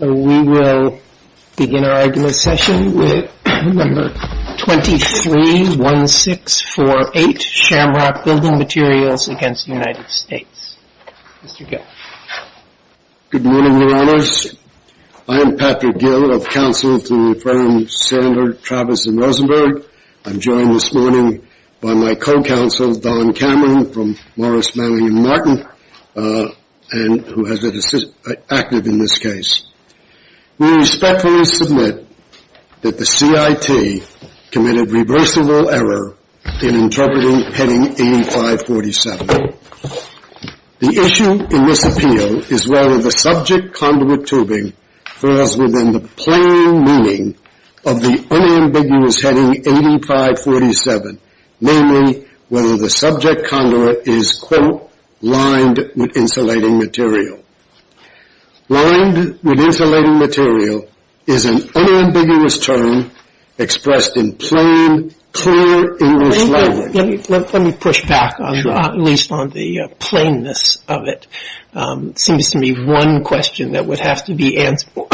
We will begin our agenda session with number 23-1648, Shamrock Building Materials v. United States. Mr. Gill. Good morning, Your Honors. I am Patrick Gill of Counsel to the firm Sandler, Travis, and Rosenberg. I'm joined this morning by my co-counsel, Don Cameron, from Morris, We respectfully submit that the CIT committed reversible error in interpreting heading 8547. The issue in this appeal is whether the subject conduit tubing falls within the plain meaning of the unambiguous heading 8547, namely, whether the subject conduit is, quote, lined with insulating material. Lined with insulating material is an unambiguous term expressed in plain, clear English language. Let me push back, at least, on the plainness of it. It seems to me one question that would have to be answered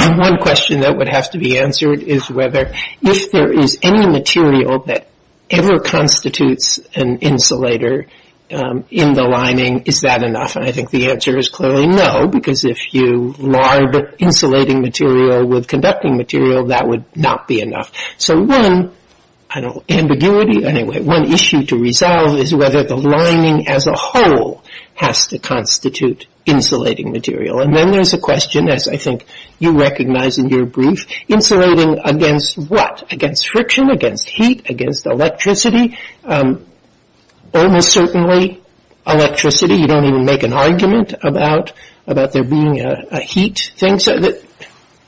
is whether, if there is any material that ever constitutes an insulator in the lining, is that enough? And I think the answer is clearly no, because if you lined insulating material with conducting material, that would not be enough. So one, I don't, ambiguity, anyway, one issue to resolve is whether the lining as a whole has to constitute insulating material. And then there's a question, as I think you recognize in your brief, insulating against what? Against friction? Against heat? Against electricity? Almost certainly electricity. You don't even make an argument about there being a heat thing.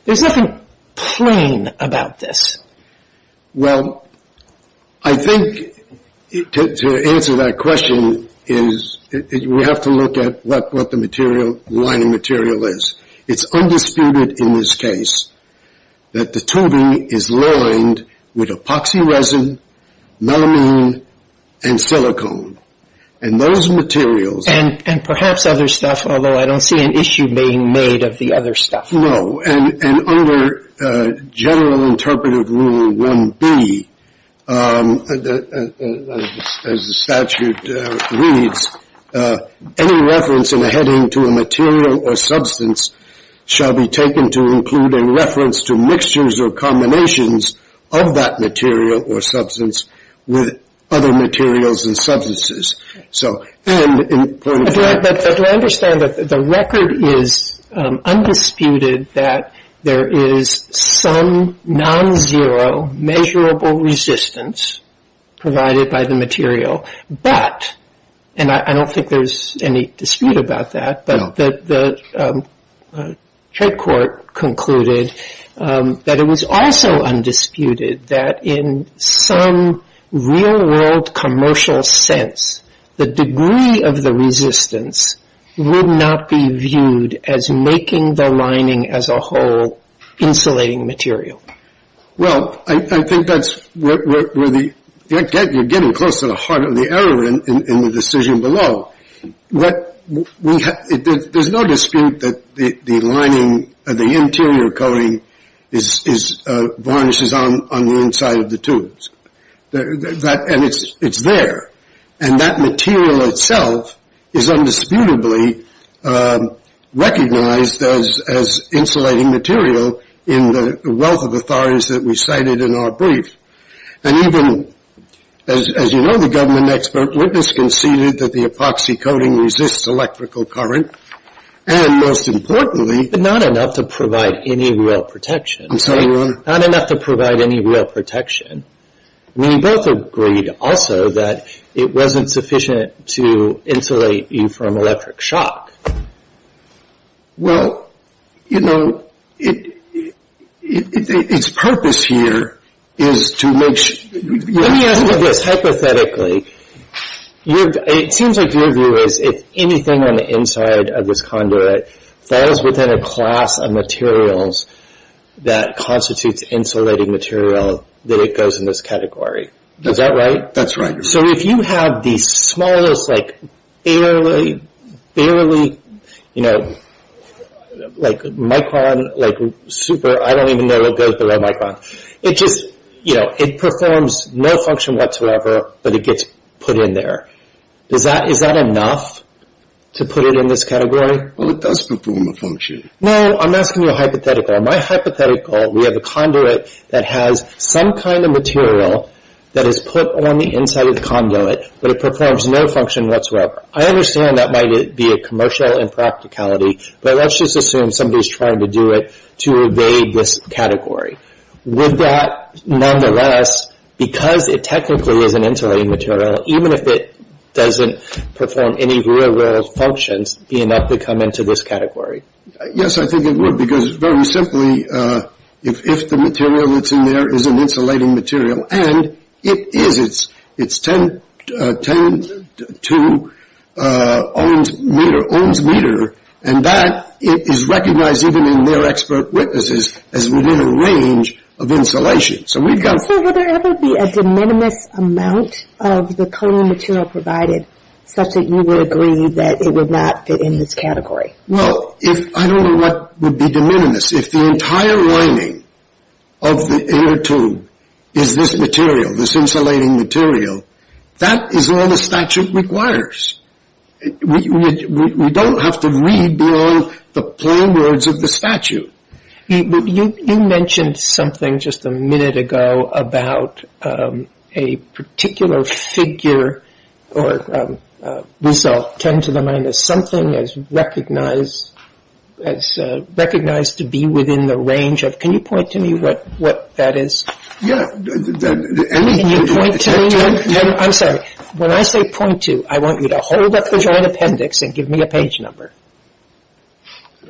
There's nothing plain about this. Well, I think to answer that question is we have to look at what the material, lining resin, melamine, and silicone, and those materials. And perhaps other stuff, although I don't see an issue being made of the other stuff. No, and under general interpretive rule 1B, as the statute reads, any reference in a heading to a material or substance shall be taken to include a reference to mixtures or combinations of that material or substance with other materials and substances. So, and in point of fact. But do I understand that the record is undisputed that there is some non-zero measurable resistance provided by the material, but, and I don't think there's any dispute about that, but the head court concluded that it was also undisputed that in some real world commercial sense the degree of the resistance would not be viewed as making the lining as a whole insulating material. Well, I think that's where the, you're getting close to the heart of the error in the decision below. There's no dispute that the lining, the interior coating, varnishes on the inside of the tubes. And it's there. And that material itself is undisputably recognized as insulating material in the wealth of authorities that we cited in our brief. And even, as you know, the government expert witness conceded that the epoxy coating resists electrical current. And most importantly. But not enough to provide any real protection. I'm sorry, Your Honor. Not enough to provide any real protection. I mean, you both agreed also that it wasn't sufficient to insulate you from electric shock. Well, you know, its purpose here is to make sure. Let me ask you this, hypothetically. It seems like your view is if anything on the inside of this conduit falls within a class of materials that constitutes insulating material, that it goes in this category. Is that right? That's right, Your Honor. So if you have the smallest, like, barely, barely, you know, like micron, like super, I don't even know what goes below micron. It just, you know, it performs no function whatsoever, but it gets put in there. Is that enough to put it in this category? Well, it does perform a function. No, I'm asking you a hypothetical. In my hypothetical, we have a conduit that has some kind of material that is put on the inside of the conduit, but it performs no function whatsoever. I understand that might be a commercial impracticality, but let's just assume somebody's trying to do it to evade this category. Would that, nonetheless, because it technically is an insulating material, even if it doesn't perform any real functions, be enough to come into this category? Yes, I think it would, because very simply, if the material that's in there is an insulating material, and it is, it's 10-2 ohms meter, ohms meter, and that is recognized even in their expert witnesses as within a range of insulation. So we've got... So would there ever be a de minimis amount of the cooling material provided, such that you would agree that it would not fit in this category? Well, if, I don't know what would be de minimis. If the entire lining of the inner tube is this material, this insulating material, that is all the statute requires. We don't have to read beyond the plain words of the statute. You mentioned something just a minute ago about a particular figure or result, 10 to the minus something, as recognized to be within the range of, can you point to me what that is? Yeah. Can you point to me? I'm sorry. When I say point to, I want you to hold up the joint appendix and give me a page number.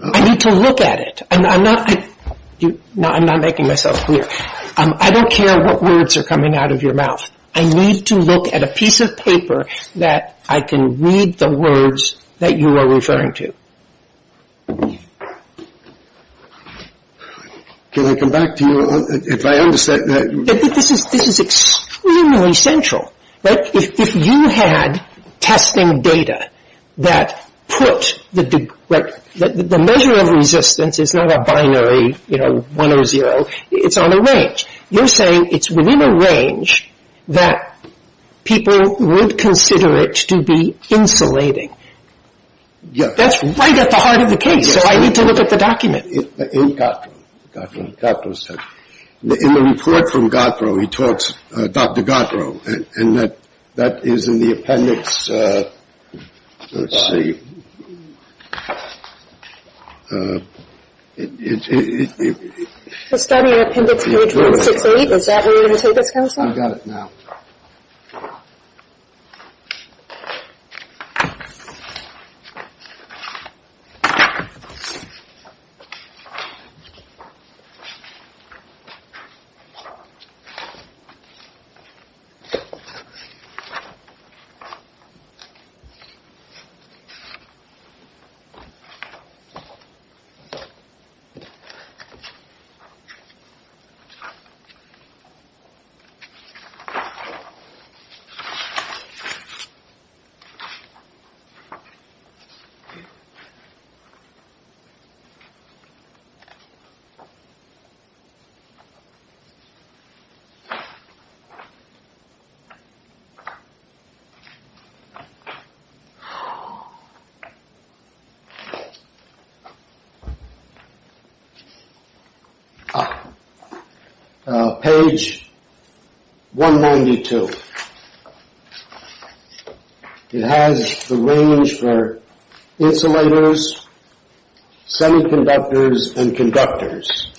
I need to look at it. I'm not, I'm not making myself clear. I don't care what words are coming out of your mouth. I need to look at a piece of paper that I can read the words that you are referring to. Can I come back to you if I understand that? This is, this is extremely central, right? If you had testing data that put the, right, the measure of resistance is not a binary, you know, one or zero. It's on a range. You're saying it's within a range that people would consider it to be insulating. Yes. That's right at the heart of the case, so I need to look at the document. In Gotthro, Gotthro said, in the report from Gotthro, he talks, Dr. Gotthro, and that is in the appendix, let's see. The study appendix page 168, is that where you're going to take this, Counselor? I've got it now. Okay. Page 192. It has the range for insulators, semiconductors, and conductors.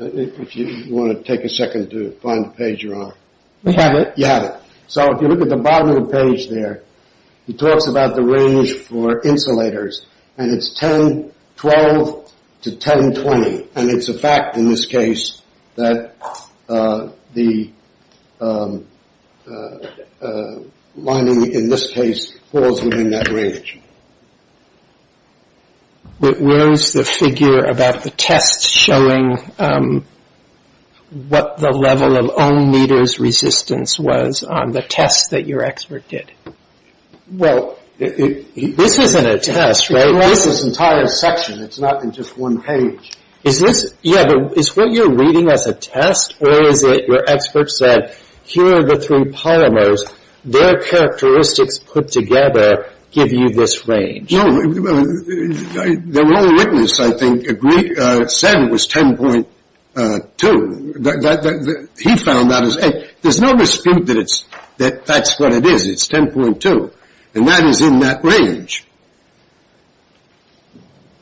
If you want to take a second to find the page you're on. I have it. You have it. So if you look at the bottom of the page there, he talks about the range for insulators, and it's 1012 to 1020, and it's a fact in this case that the lining, in this case, falls within that range. But where is the figure about the test showing what the level of ohm meters resistance was on the test that your expert did? Well, this isn't a test, right? This is an entire section. It's not in just one page. Is this, yeah, but is what you're reading as a test, or is it where experts said, here are the three polymers, their characteristics put together give you this range? No, the role witness, I think, said it was 10.2. He found that as, hey, there's no dispute that that's what it is. It's 10.2. And that is in that range.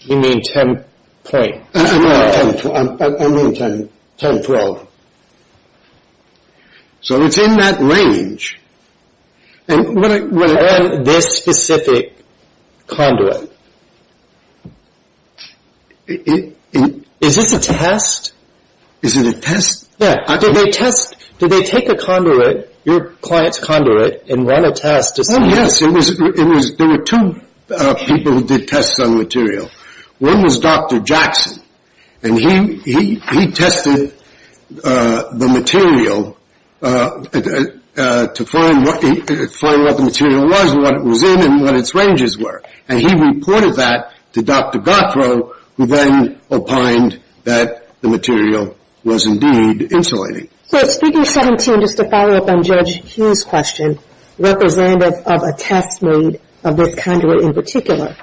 You mean 10 point? No, I mean 1012. So it's in that range. And this specific conduit, is this a test? Is it a test? Did they take a conduit, your client's conduit, and run a test to see? Oh, yes. There were two people who did tests on material. One was Dr. Jackson, and he tested the material to find what the material was, what it was in, and what its ranges were. And he reported that to Dr. Gottfroh, who then opined that the material was indeed insulating. So speaker 17, just to follow up on Judge Hughes' question, representative of a test made of this conduit in particular.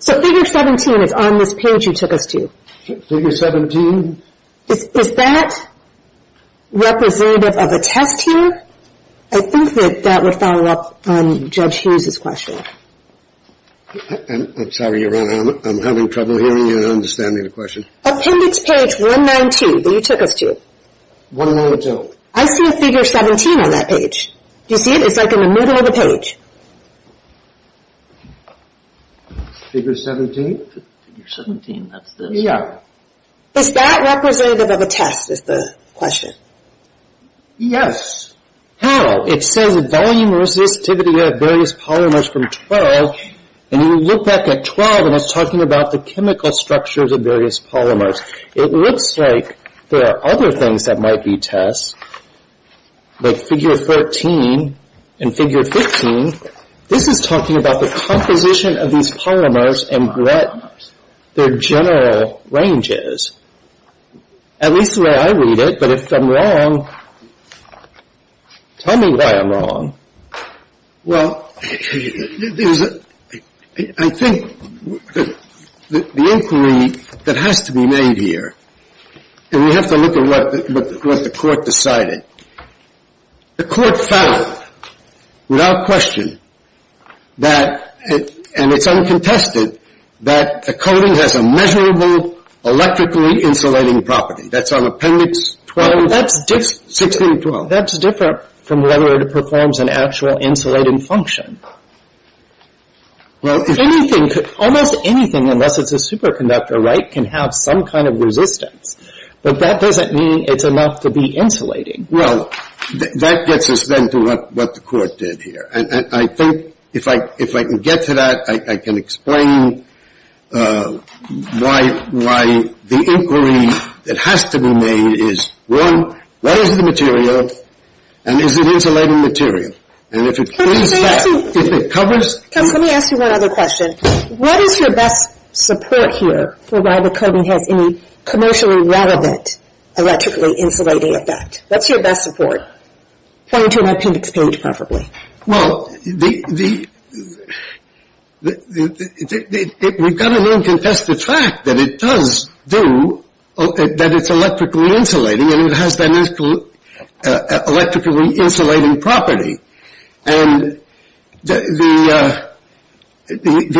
So figure 17 is on this page you took us to. Figure 17? Is that representative of a test here? I think that that would follow up on Judge Hughes' question. I'm sorry, Your Honor, I'm having trouble hearing and understanding the question. Appendix page 192 that you took us to. 192. I see a figure 17 on that page. Do you see it? It's like in the middle of the page. Figure 17? Figure 17, that's this? Yeah. Is that representative of a test is the question? Yes. How? It says volume resistivity of various polymers from 12, and you look back at 12 and it's talking about the chemical structures of various polymers. It looks like there are other things that might be tests, like figure 13 and figure 15. This is talking about the composition of these polymers and their general ranges, at least the way I read it, but if I'm wrong, tell me why I'm wrong. Well, I think the inquiry that has to be made here, and we have to look at what the court decided, the court found without question that, and it's uncontested, that the coating has a measurable electrically insulating property. That's on Appendix 12. That's different. Well, anything, almost anything, unless it's a superconductor, right, can have some kind of resistance, but that doesn't mean it's enough to be insulating. Well, that gets us then to what the court did here, and I think if I can get to that, I can explain why the inquiry that has to be made is, one, what is the material, and is it insulating material? And if it cleans that, if it covers it. Let me ask you one other question. What is your best support here for why the coating has any commercially relevant electrically insulating effect? What's your best support? Point to an Appendix page, preferably. Well, we've got an uncontested fact that it does do, that it's electrically insulating, and it has that electrically insulating property. And the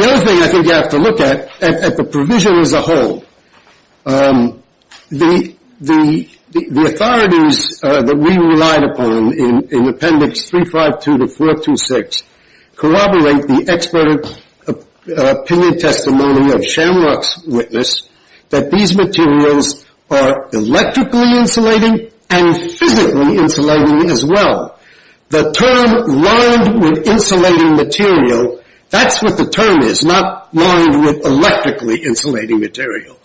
other thing I think you have to look at, at the provision as a whole, the authorities that we relied upon in Appendix 352 to 426 corroborate the expert opinion testimony of Shamrock's witness that these materials are electrically insulating and physically insulating as well. The term lined with insulating material, that's what the term is, not lined with electrically insulating material.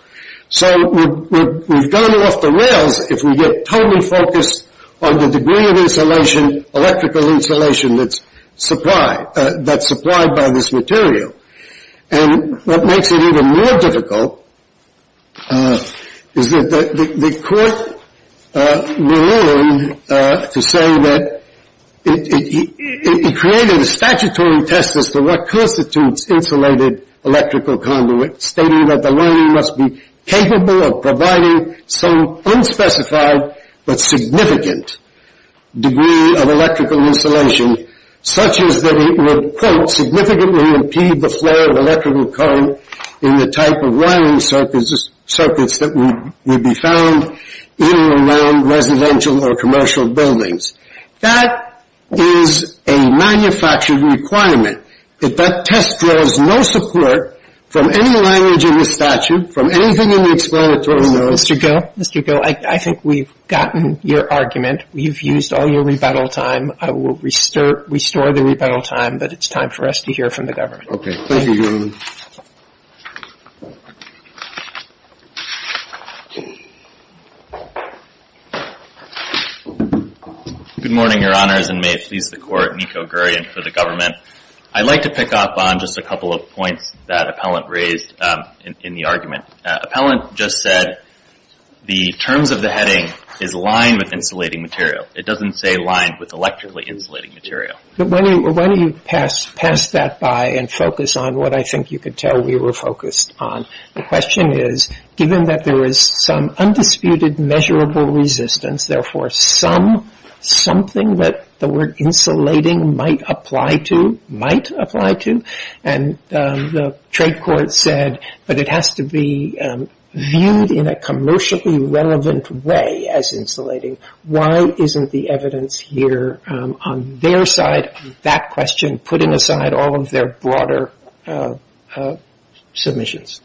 So we've gone off the rails if we get totally focused on the degree of electrical insulation that's supplied by this material. And what makes it even more difficult is that the court moved on to say that it created a statutory test as to what constitutes insulated electrical conduit, stating that the lining must be capable of providing some unspecified but significant degree of electrical insulation, such as that it would, quote, significantly impede the flow of electrical current in the type of wiring circuits that would be found in or around residential or commercial buildings. That is a manufactured requirement. If that test draws no support from any language in the statute, from anything in the explanatory notes — Mr. Gill, I think we've gotten your argument. We've used all your rebuttal time. I will restore the rebuttal time, but it's time for us to hear from the government. Okay. Thank you, Your Honor. Good morning, Your Honors, and may it please the Court, Nico Gurian for the government. I'd like to pick up on just a couple of points that Appellant raised in the argument. Appellant just said the terms of the heading is lined with insulating material. It doesn't say lined with electrically insulating material. But why don't you pass that by and focus on what I think you could tell we were focused on. The question is, given that there is some undisputed measurable resistance, therefore something that the word insulating might apply to, might apply to, the trade court said, but it has to be viewed in a commercially relevant way as insulating. Why isn't the evidence here on their side of that question, putting aside all of their broader submissions?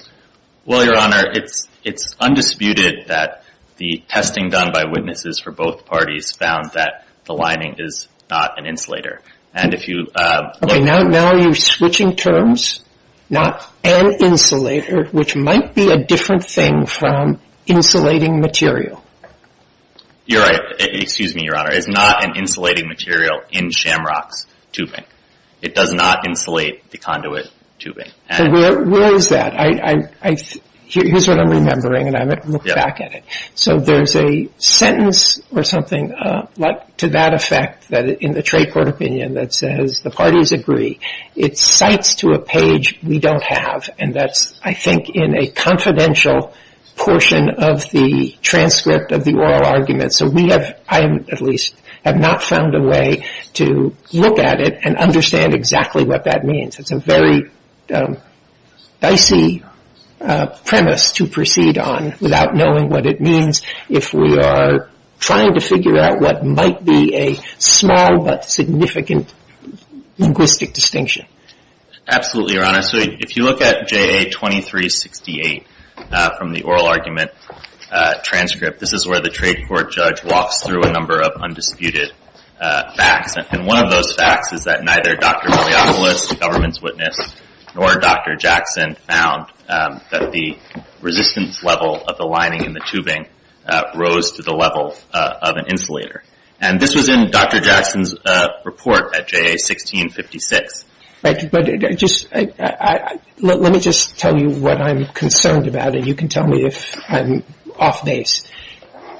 Well, Your Honor, it's undisputed that the testing done by witnesses for both parties found that the lining is not an insulator. Okay, now are you switching terms? Not an insulator, which might be a different thing from insulating material. You're right. Excuse me, Your Honor. It's not an insulating material in shamrocks tubing. It does not insulate the conduit tubing. Where is that? Here's what I'm remembering, and I'm going to look back at it. So there's a sentence or something to that effect in the trade court opinion that says the parties agree. It cites to a page we don't have, and that's, I think, in a confidential portion of the transcript of the oral argument. So we have, I at least, have not found a way to look at it and understand exactly what that means. It's a very dicey premise to proceed on without knowing what it means if we are trying to figure out what might be a small but significant linguistic distinction. Absolutely, Your Honor. So if you look at JA2368 from the oral argument transcript, this is where the trade court judge walks through a number of undisputed facts. And one of those facts is that neither Dr. Maliopoulos, the government's witness, nor Dr. Jackson found that the resistance level of the lining in the tubing rose to the level of an insulator. And this was in Dr. Jackson's report at JA1656. Let me just tell you what I'm concerned about, and you can tell me if I'm off base.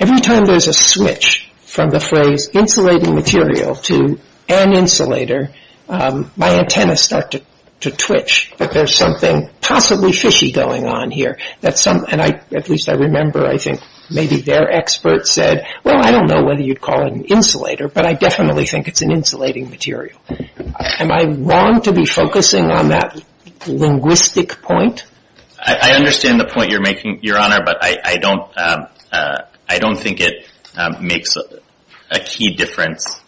Every time there's a switch from the phrase insulating material to an insulator, my antennas start to twitch that there's something possibly fishy going on here. And I, at least I remember, I think maybe their expert said, well, I don't know whether you'd call it an insulator, but I definitely think it's an insulating material. Am I wrong to be focusing on that linguistic point? I understand the point you're making, Your Honor, but I don't think it makes a key difference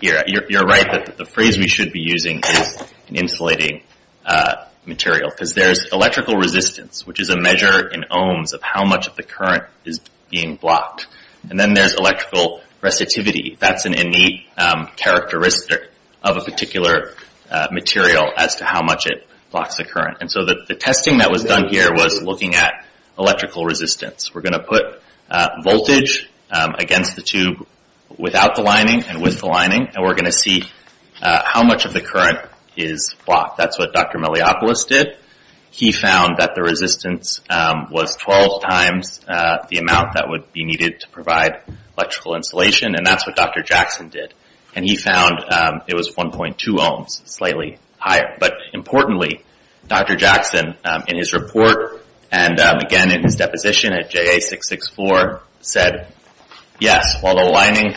here. You're right that the phrase we should be using is an insulating material because there's electrical resistance, which is a measure in ohms of how much of the current is being blocked. And then there's electrical receptivity. That's an innate characteristic of a particular material as to how much it blocks the current. And so the testing that was done here was looking at electrical resistance. We're going to put voltage against the tube without the lining and with the lining, and we're going to see how much of the current is blocked. That's what Dr. Meliopoulos did. He found that the resistance was 12 times the amount that would be needed to provide electrical insulation, and that's what Dr. Jackson did. And he found it was 1.2 ohms, slightly higher. But importantly, Dr. Jackson, in his report and, again, in his deposition at JA664, said, yes, while the lining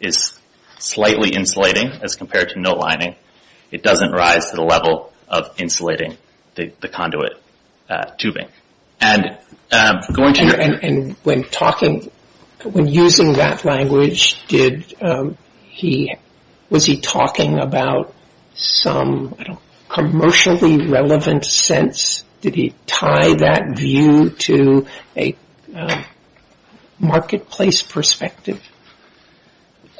is slightly insulating as compared to no lining, it doesn't rise to the level of insulating the conduit tubing. And when using that language, was he talking about some commercially relevant sense? Did he tie that view to a marketplace perspective?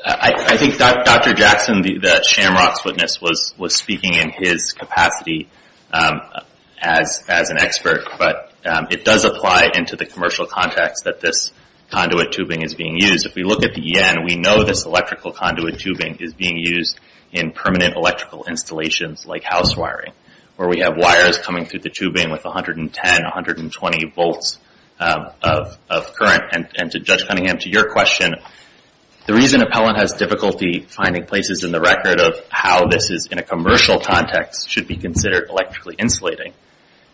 I think Dr. Jackson, the shamrocks witness, was speaking in his capacity as an expert, but it does apply into the commercial context that this conduit tubing is being used. If we look at the EN, we know this electrical conduit tubing is being used in permanent electrical installations like house wiring, where we have wires coming through the tubing with 110, 120 volts of current. And to Judge Cunningham, to your question, the reason Appellant has difficulty finding places in the record of how this is in a commercial context should be considered electrically insulating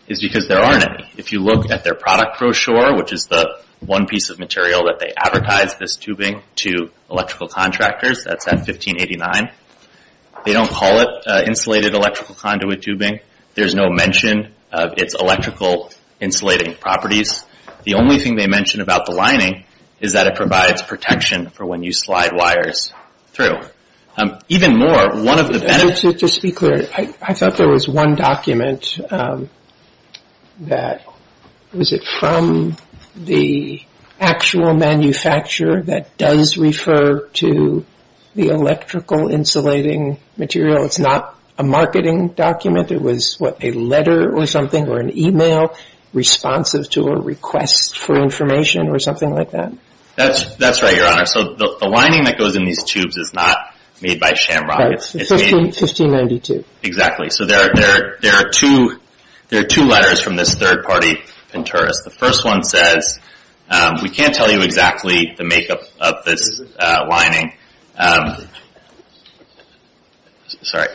is because there aren't any. If you look at their product brochure, which is the one piece of material that they advertise this tubing to electrical contractors, that's at 1589, they don't call it insulated electrical conduit tubing. There's no mention of its electrical insulating properties. The only thing they mention about the lining is that it provides protection for when you slide wires through. Even more, one of the benefits... Just to be clear, I thought there was one document that, was it from the actual manufacturer that does refer to the electrical insulating material? It's not a marketing document. It was, what, a letter or something or an e-mail responsive to a request for information or something like that? That's right, Your Honor. So the lining that goes in these tubes is not made by Shamrock. It's 1592. Exactly. So there are two letters from this third-party Pinterest. The first one says, We can't tell you exactly the makeup of this lining. Sorry.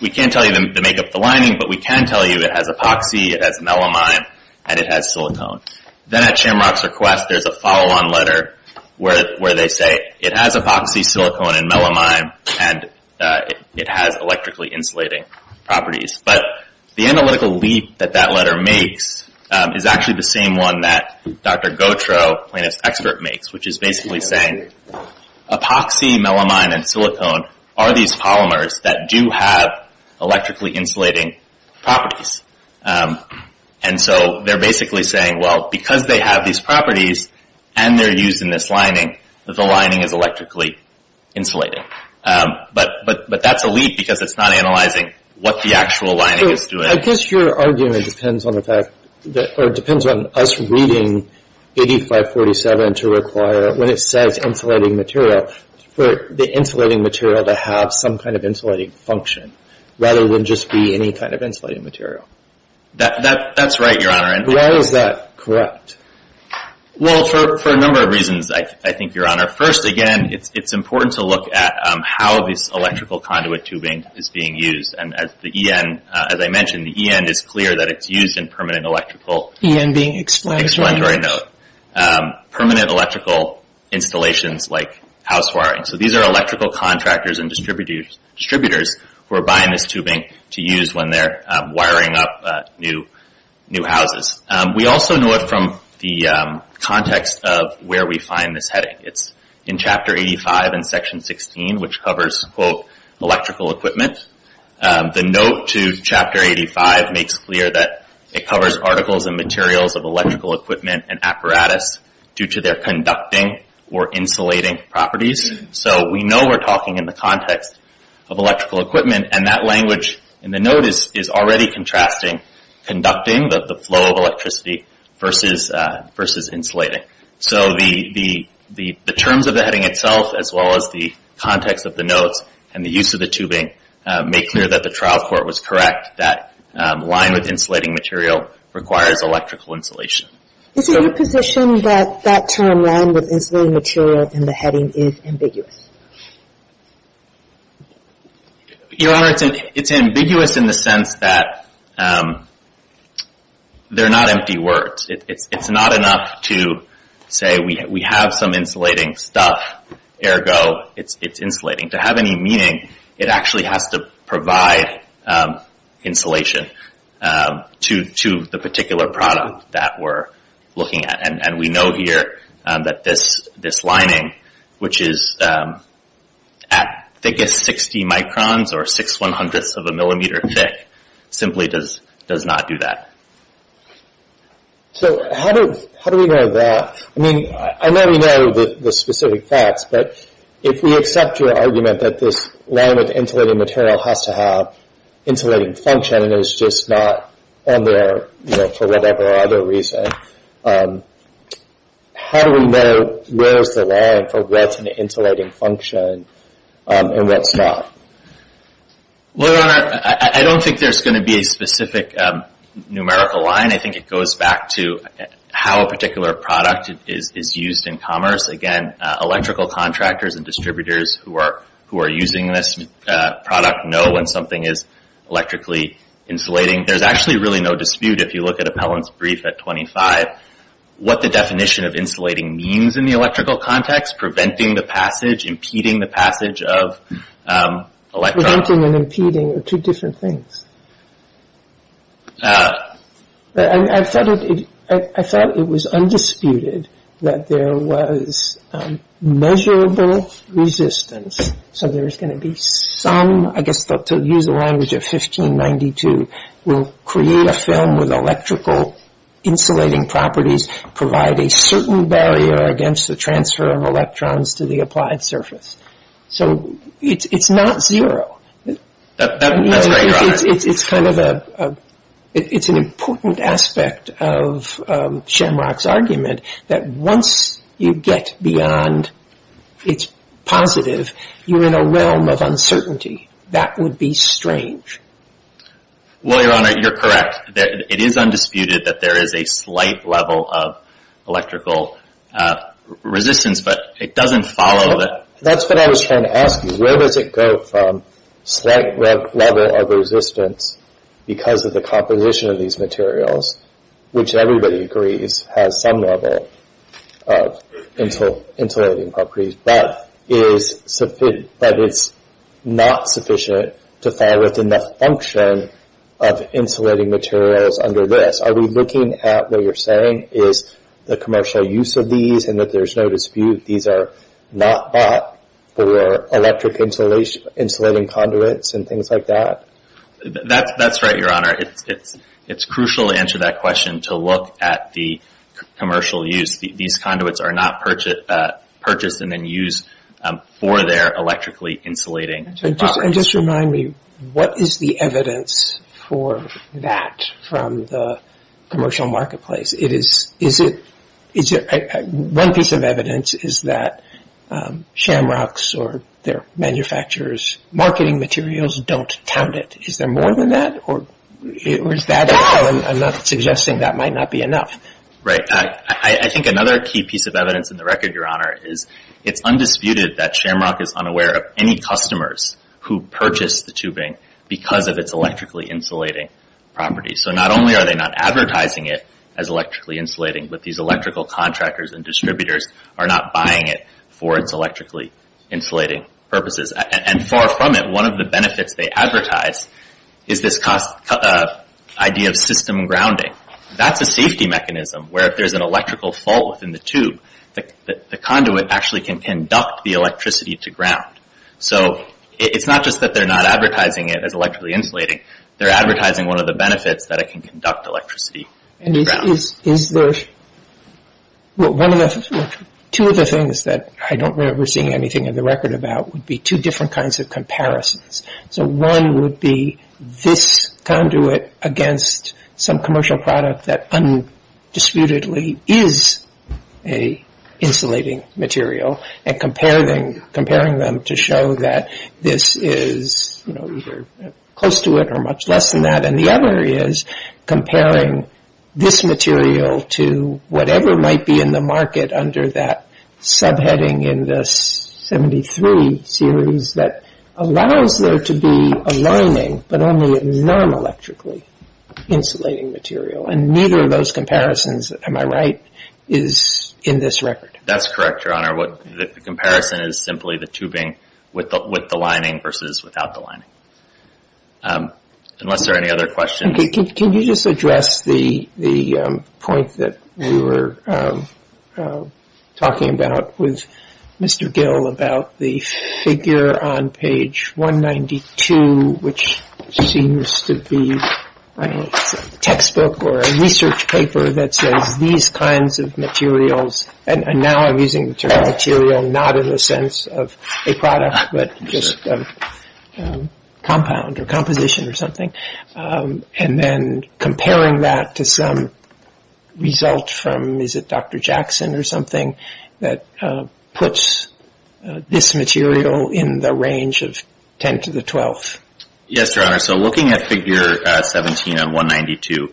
We can't tell you the makeup of the lining, but we can tell you it has epoxy, it has melamine, and it has silicone. Then at Shamrock's request, there's a follow-on letter where they say, It has epoxy, silicone, and melamine, and it has electrically insulating properties. But the analytical leap that that letter makes is actually the same one that Dr. Gautreaux, a plaintiff's expert, makes, which is basically saying, Epoxy, melamine, and silicone are these polymers that do have electrically insulating properties. And so they're basically saying, Well, because they have these properties and they're used in this lining, the lining is electrically insulating. But that's a leap because it's not analyzing what the actual lining is doing. I guess your argument depends on us reading 8547 to require, when it says insulating material, for the insulating material to have some kind of insulating function, rather than just be any kind of insulating material. That's right, Your Honor. Why is that correct? Well, for a number of reasons, I think, Your Honor. First, again, it's important to look at how this electrical conduit tubing is being used. And as I mentioned, the EN is clear that it's used in permanent electrical. EN being explanatory. Explanatory, no. Permanent electrical installations like house wiring. So these are electrical contractors and distributors who are buying this tubing to use when they're wiring up new houses. We also know it from the context of where we find this heading. It's in Chapter 85 and Section 16, which covers, quote, electrical equipment. The note to Chapter 85 makes clear that it covers articles and materials of electrical equipment and apparatus due to their conducting or insulating properties. So we know we're talking in the context of electrical equipment, and that language in the note is already contrasting conducting, the flow of electricity, versus insulating. So the terms of the heading itself as well as the context of the notes and the use of the tubing make clear that the trial court was correct, that line with insulating material requires electrical insulation. Is it your position that that term, line with insulating material, in the heading is ambiguous? Your Honor, it's ambiguous in the sense that they're not empty words. It's not enough to say we have some insulating stuff, ergo, it's insulating. To have any meaning, it actually has to provide insulation to the particular product that we're looking at. And we know here that this lining, which is at thickest 60 microns or 6 100ths of a millimeter thick, simply does not do that. So how do we know that? I mean, I know we know the specific facts, but if we accept your argument that this line with insulating material has to have insulating function and is just not on there for whatever other reason, how do we know where's the line for where's the insulating function and where's not? Your Honor, I don't think there's going to be a specific numerical line. I think it goes back to how a particular product is used in commerce. Again, electrical contractors and distributors who are using this product know when something is electrically insulating. There's actually really no dispute if you look at Appellant's brief at 25, what the definition of insulating means in the electrical context, preventing the passage, impeding the passage of electrons. Preventing and impeding are two different things. I thought it was undisputed that there was measurable resistance. So there's going to be some, I guess to use the language of 1592, will create a film with electrical insulating properties, provide a certain barrier against the transfer of electrons to the applied surface. So it's not zero. That's great, Your Honor. It's kind of a, it's an important aspect of Shamrock's argument that once you get beyond its positive, you're in a realm of uncertainty. That would be strange. Well, Your Honor, you're correct. It is undisputed that there is a slight level of electrical resistance, but it doesn't follow that. That's what I was trying to ask you. Where does it go from slight level of resistance because of the composition of these materials, which everybody agrees has some level of insulating properties, but it's not sufficient to fall within the function of insulating materials under this. Are we looking at what you're saying is the commercial use of these and that there's no dispute these are not bought for electric insulating conduits and things like that? That's right, Your Honor. It's crucial to answer that question to look at the commercial use. These conduits are not purchased and then used for their electrically insulating properties. And just remind me, what is the evidence for that from the commercial marketplace? It is, is it, one piece of evidence is that Shamrock's or their manufacturers' marketing materials don't count it. Is there more than that or is that all? I'm not suggesting that might not be enough. Right. I think another key piece of evidence in the record, Your Honor, is it's undisputed that Shamrock is unaware of any customers who purchase the tubing because of its electrically insulating properties. So not only are they not advertising it as electrically insulating, but these electrical contractors and distributors are not buying it for its electrically insulating purposes. And far from it, one of the benefits they advertise is this idea of system grounding. That's a safety mechanism where if there's an electrical fault within the tube, the conduit actually can conduct the electricity to ground. So it's not just that they're not advertising it as electrically insulating, they're advertising one of the benefits that it can conduct electricity. And is there, well, one of the, two of the things that I don't remember seeing anything in the record about would be two different kinds of comparisons. So one would be this conduit against some commercial product that undisputedly is a insulating material and comparing them to show that this is, you know, either close to it or much less than that. And the other is comparing this material to whatever might be in the market under that subheading in the 73 series that allows there to be a lining, but only a non-electrically insulating material. And neither of those comparisons, am I right, is in this record? That's correct, Your Honor. The comparison is simply the tubing with the lining versus without the lining. Unless there are any other questions. Can you just address the point that we were talking about with Mr. Gill about the figure on page 192, which seems to be a textbook or a research paper that says these kinds of materials, and now I'm using the term material not in the sense of a product, but just a compound or composition or something. And then comparing that to some result from, is it Dr. Jackson or something, that puts this material in the range of 10 to the 12th. Yes, Your Honor. So looking at figure 17 on 192,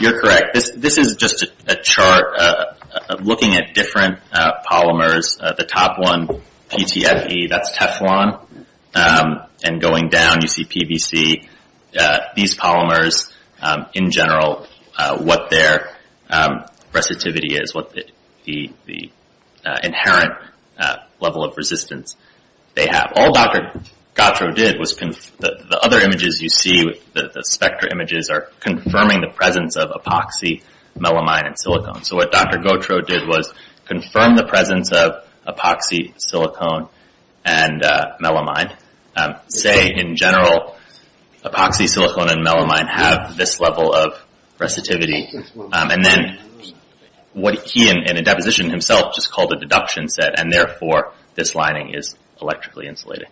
you're correct. This is just a chart looking at different polymers. The top one, PTFE, that's Teflon. And going down, you see PVC. These polymers, in general, what their resistivity is, what the inherent level of resistance they have. All Dr. Gautreaux did was the other images you see, the spectra images, are confirming the presence of epoxy, melamine, and silicone. So what Dr. Gautreaux did was confirm the presence of epoxy, silicone, and melamine. Say, in general, epoxy, silicone, and melamine have this level of resistivity. And then what he, in a deposition himself, just called a deduction, said, and therefore, this lining is electrically insulated.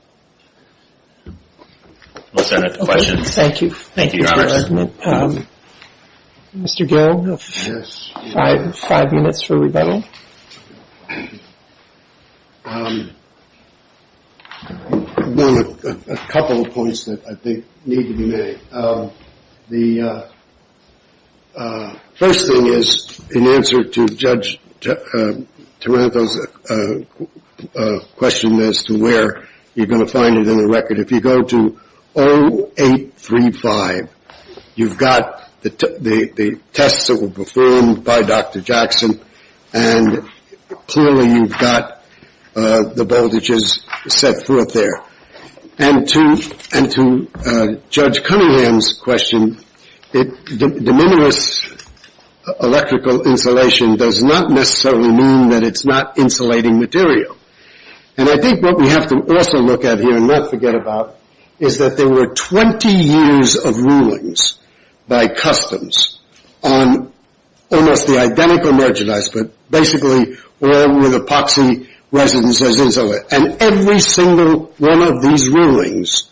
We'll start with the questions. Thank you. Thank you, Your Honors. Mr. Garreaux, five minutes for rebuttal. A couple of points that I think need to be made. The first thing is, in answer to Judge Taranto's question as to where you're going to find it in the record, if you go to 0835, you've got the tests that were performed by Dr. Jackson, and clearly you've got the voltages set forth there. And to Judge Cunningham's question, the numerous electrical insulation does not necessarily mean that it's not insulating material. And I think what we have to also look at here and not forget about is that there were 20 years of rulings by customs on almost the identical merchandise, but basically all with epoxy residences and so on. And every single one of these rulings,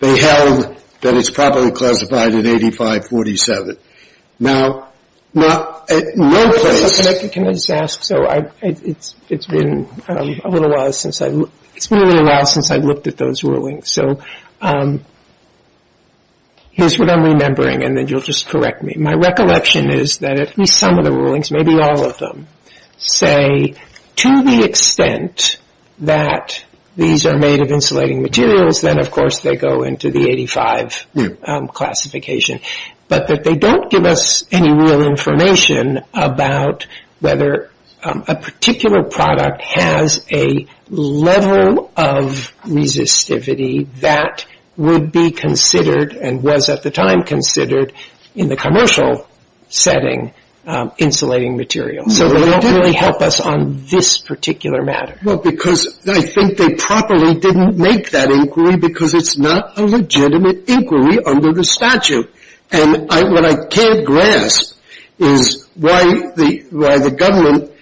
they held that it's properly classified at 8547. Can I just ask? So it's been a little while since I've looked at those rulings. So here's what I'm remembering, and then you'll just correct me. My recollection is that at least some of the rulings, maybe all of them, say to the extent that these are made of insulating materials, then of course they go into the 85 classification, but that they don't give us any real information about whether a particular product has a level of resistivity that would be considered and was at the time considered in the commercial setting insulating material. So they don't really help us on this particular matter. Well, because I think they probably didn't make that inquiry because it's not a legitimate inquiry under the statute. And what I can't grasp is why the government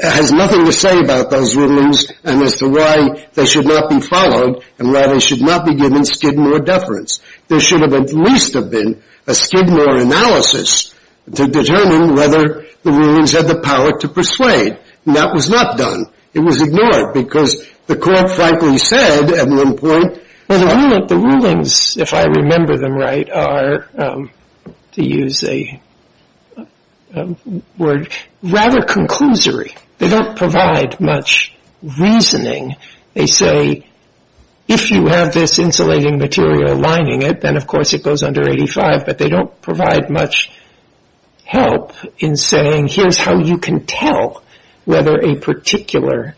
has nothing to say about those rulings and as to why they should not be followed and why they should not be given Skidmore deference. There should have at least been a Skidmore analysis to determine whether the rulings had the power to persuade, and that was not done. It was ignored because the court frankly said at one point... Well, the rulings, if I remember them right, are, to use a word, rather conclusory. They don't provide much reasoning. They say if you have this insulating material lining it, then of course it goes under 85, but they don't provide much help in saying here's how you can tell whether a particular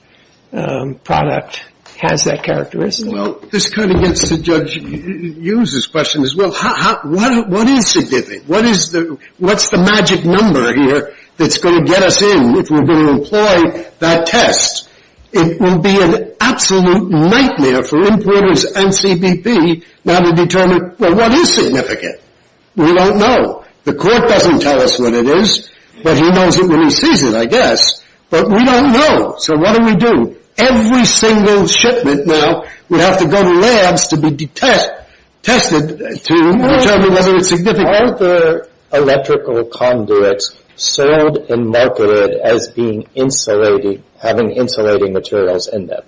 product has that characteristic. Well, this kind of gets to Judge Hughes' question as well. What is significant? What's the magic number here that's going to get us in if we're going to employ that test? It would be an absolute nightmare for importers and CBP now to determine, well, what is significant? We don't know. The court doesn't tell us what it is, but he knows it when he sees it, I guess, but we don't know, so what do we do? Every single shipment now would have to go to labs to be tested to determine whether it's significant. Aren't the electrical conduits sold and marketed as having insulating materials in them?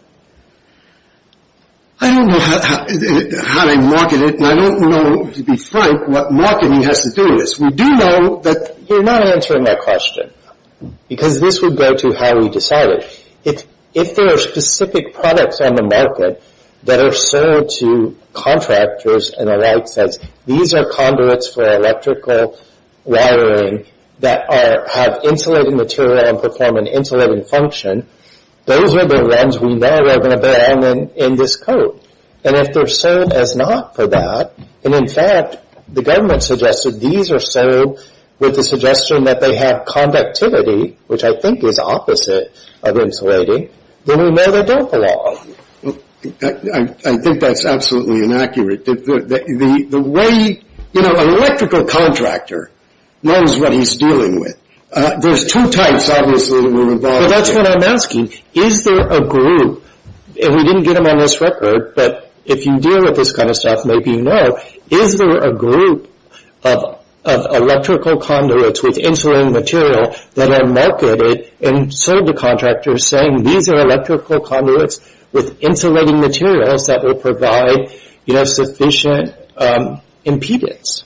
I don't know how they market it, and I don't know, to be frank, what marketing has to do with this. We do know that they're not answering that question because this would go to how we decide it. If there are specific products on the market that are sold to contractors and the like that these are conduits for electrical wiring that have insulating material and perform an insulating function, those are the ones we know are going to be in this code, and if they're sold as not for that, and, in fact, the government suggested these are sold with the suggestion that they have conductivity, which I think is opposite of insulating, then we know they don't belong. I think that's absolutely inaccurate. The way an electrical contractor knows what he's dealing with, there's two types, obviously, that we're involved in. Well, that's what I'm asking. Is there a group, and we didn't get them on this record, but if you deal with this kind of stuff, maybe you know, is there a group of electrical conduits with insulating material that are marketed and sold to contractors saying these are electrical conduits with insulating materials that will provide sufficient impedance?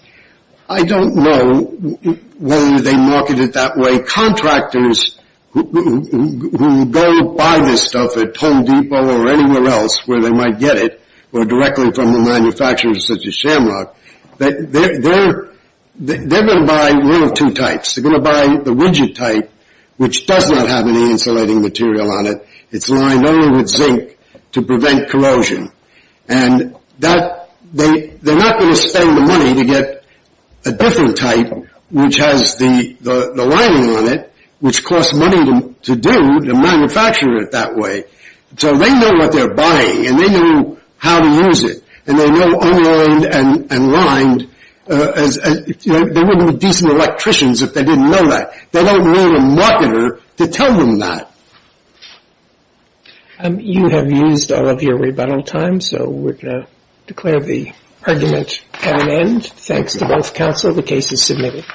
I don't know whether they market it that way. The contractors who go buy this stuff at Home Depot or anywhere else where they might get it or directly from a manufacturer such as Shamrock, they're going to buy one of two types. They're going to buy the widget type, which does not have any insulating material on it. It's lined only with zinc to prevent corrosion, and they're not going to spend the money to get a different type, which has the lining on it, which costs money to do to manufacture it that way. So they know what they're buying, and they know how to use it, and they know only lined and lined. They wouldn't be decent electricians if they didn't know that. They don't need a marketer to tell them that. You have used all of your rebuttal time, so we're going to declare the argument at an end. Thanks to both counsel. The case is submitted.